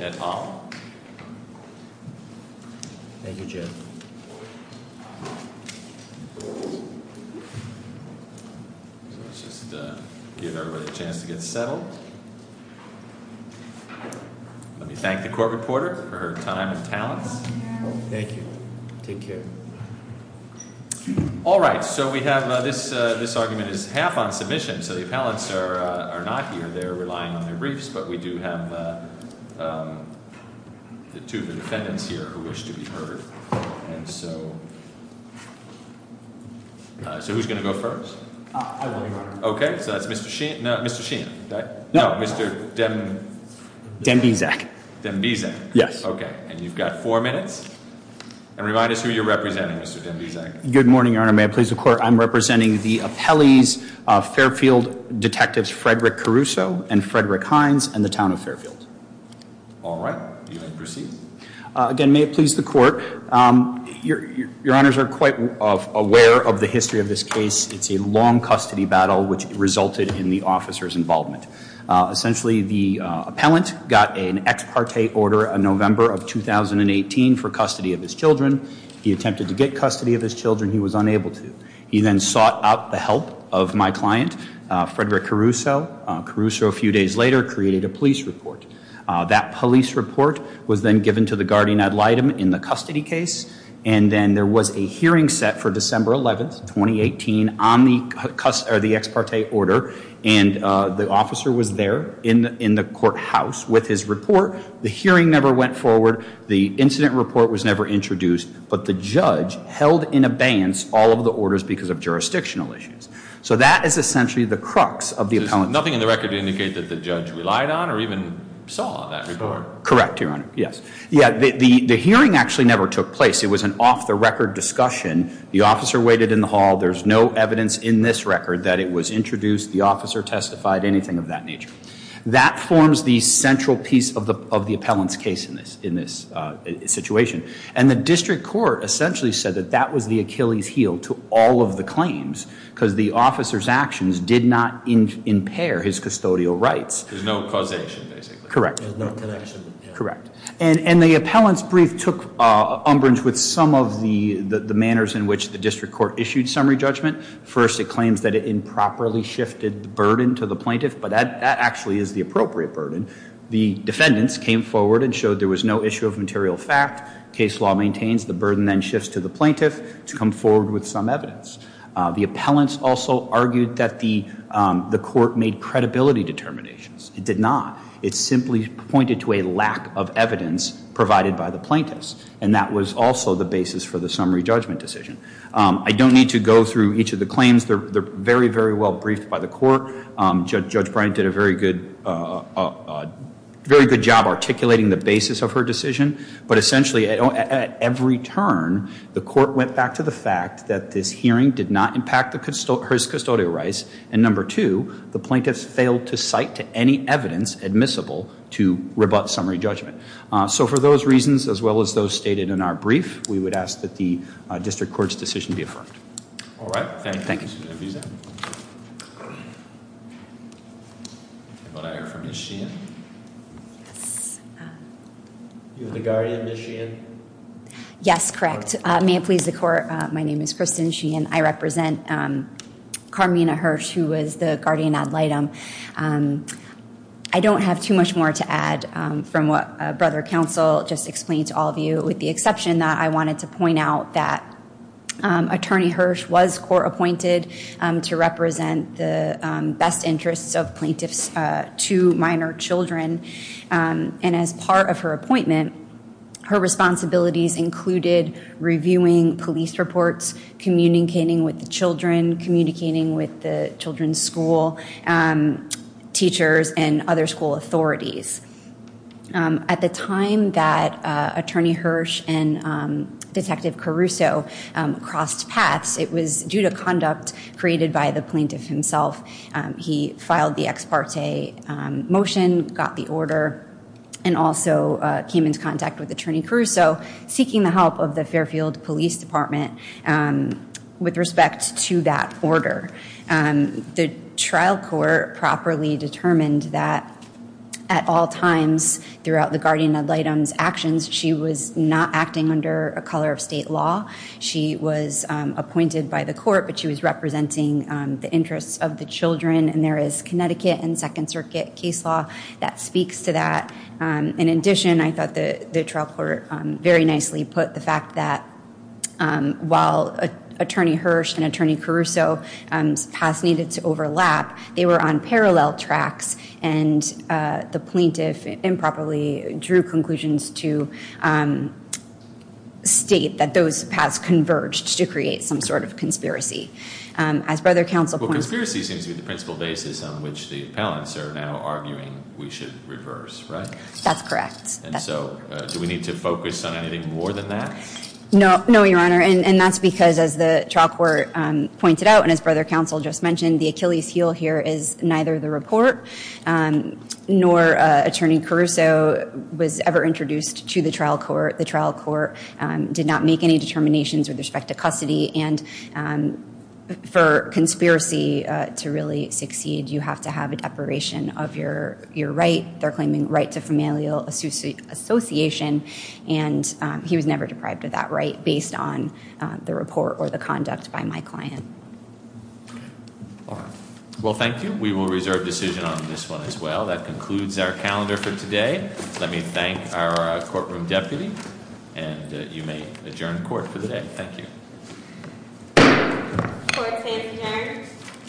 et al. Let me thank the court reporter for her time and talents. Thank you. Take care. All right. So we have this. This argument is half on submission. So the appellants are not here. They're relying on their briefs. But we do have the two defendants here who wish to be heard. And so so who's going to go first? OK, so that's Mr. Sheen. Mr. Sheen. No, Mr. Dembyzak. Dembyzak. Yes. OK. And you've got four minutes. And remind us who you're representing, Mr. Dembyzak. Good morning, Your Honor. May it please the court. I'm representing the appellees, Fairfield detectives, Frederick Caruso and Frederick Hines and the town of Fairfield. All right. You may proceed. Again, may it please the court. Your honors are quite aware of the history of this case. It's a long custody battle which resulted in the officer's involvement. Essentially, the appellant got an ex parte order in November of 2018 for custody of his children. He attempted to get custody of his children. He was unable to. He then sought out the help of my client, Frederick Caruso. Caruso, a few days later, created a police report. That police report was then given to the guardian ad litem in the custody case. And then there was a hearing set for December 11th, 2018 on the ex parte order. And the officer was there in the courthouse with his report. The hearing never went forward. The incident report was never introduced. But the judge held in abeyance all of the orders because of jurisdictional issues. So that is essentially the crux of the appellant. Nothing in the record indicates that the judge relied on or even saw that report. Correct, Your Honor. Yes. Yeah, the hearing actually never took place. It was an off the record discussion. The officer waited in the hall. There's no evidence in this record that it was introduced. The officer testified, anything of that nature. That forms the central piece of the appellant's case in this situation. And the district court essentially said that that was the Achilles heel to all of the claims. Because the officer's actions did not impair his custodial rights. There's no causation, basically. Correct. There's no connection. Correct. And the appellant's brief took umbrage with some of the manners in which the district court issued summary judgment. First, it claims that it improperly shifted the burden to the plaintiff. But that actually is the appropriate burden. The defendants came forward and showed there was no issue of material fact. Case law maintains the burden then shifts to the plaintiff to come forward with some evidence. The appellants also argued that the court made credibility determinations. It did not. It simply pointed to a lack of evidence provided by the plaintiffs. And that was also the basis for the summary judgment decision. I don't need to go through each of the claims. They're very, very well briefed by the court. Judge Bryant did a very good job articulating the basis of her decision. But essentially, at every turn, the court went back to the fact that this hearing did not impact her custodial rights. And number two, the plaintiffs failed to cite to any evidence admissible to rebut summary judgment. So for those reasons, as well as those stated in our brief, we would ask that the district court's decision be affirmed. All right. Thank you. Thank you. I hear from Ms. Sheehan. You're the guardian, Ms. Sheehan? Yes, correct. May it please the court, my name is Kristen Sheehan. I represent Carmina Hirsch, who was the guardian ad litem. I don't have too much more to add from what Brother Counsel just explained to all of you, with the exception that I wanted to point out that Attorney Hirsch was court appointed to represent the best interests of plaintiffs to minor children. And as part of her appointment, her responsibilities included reviewing police reports, communicating with the children, communicating with the children's school teachers and other school authorities. At the time that Attorney Hirsch and Detective Caruso crossed paths, it was due to conduct created by the plaintiff himself. He filed the ex parte motion, got the order, and also came into contact with Attorney Caruso, seeking the help of the Fairfield Police Department with respect to that order. The trial court properly determined that at all times throughout the guardian ad litem's actions, she was not acting under a color of state law. She was appointed by the court, but she was representing the interests of the children, and there is Connecticut and Second Circuit case law that speaks to that. In addition, I thought the trial court very nicely put the fact that while Attorney Hirsch and Attorney Caruso's paths needed to overlap, they were on parallel tracks, and the plaintiff improperly drew conclusions to state that those paths converged to create some sort of conspiracy. As Brother Counsel pointed out- Well, conspiracy seems to be the principal basis on which the appellants are now arguing we should reverse, right? That's correct. And so do we need to focus on anything more than that? No, Your Honor, and that's because as the trial court pointed out, and as Brother Counsel just mentioned, the Achilles heel here is neither the report nor Attorney Caruso was ever introduced to the trial court. The trial court did not make any determinations with respect to custody, and for conspiracy to really succeed, you have to have a deparation of your right. They're claiming right to familial association, and he was never deprived of that right based on the report or the conduct by my client. All right. Well, thank you. We will reserve decision on this one as well. That concludes our calendar for today. Let me thank our courtroom deputy, and you may adjourn court for the day. Thank you. Court is adjourned.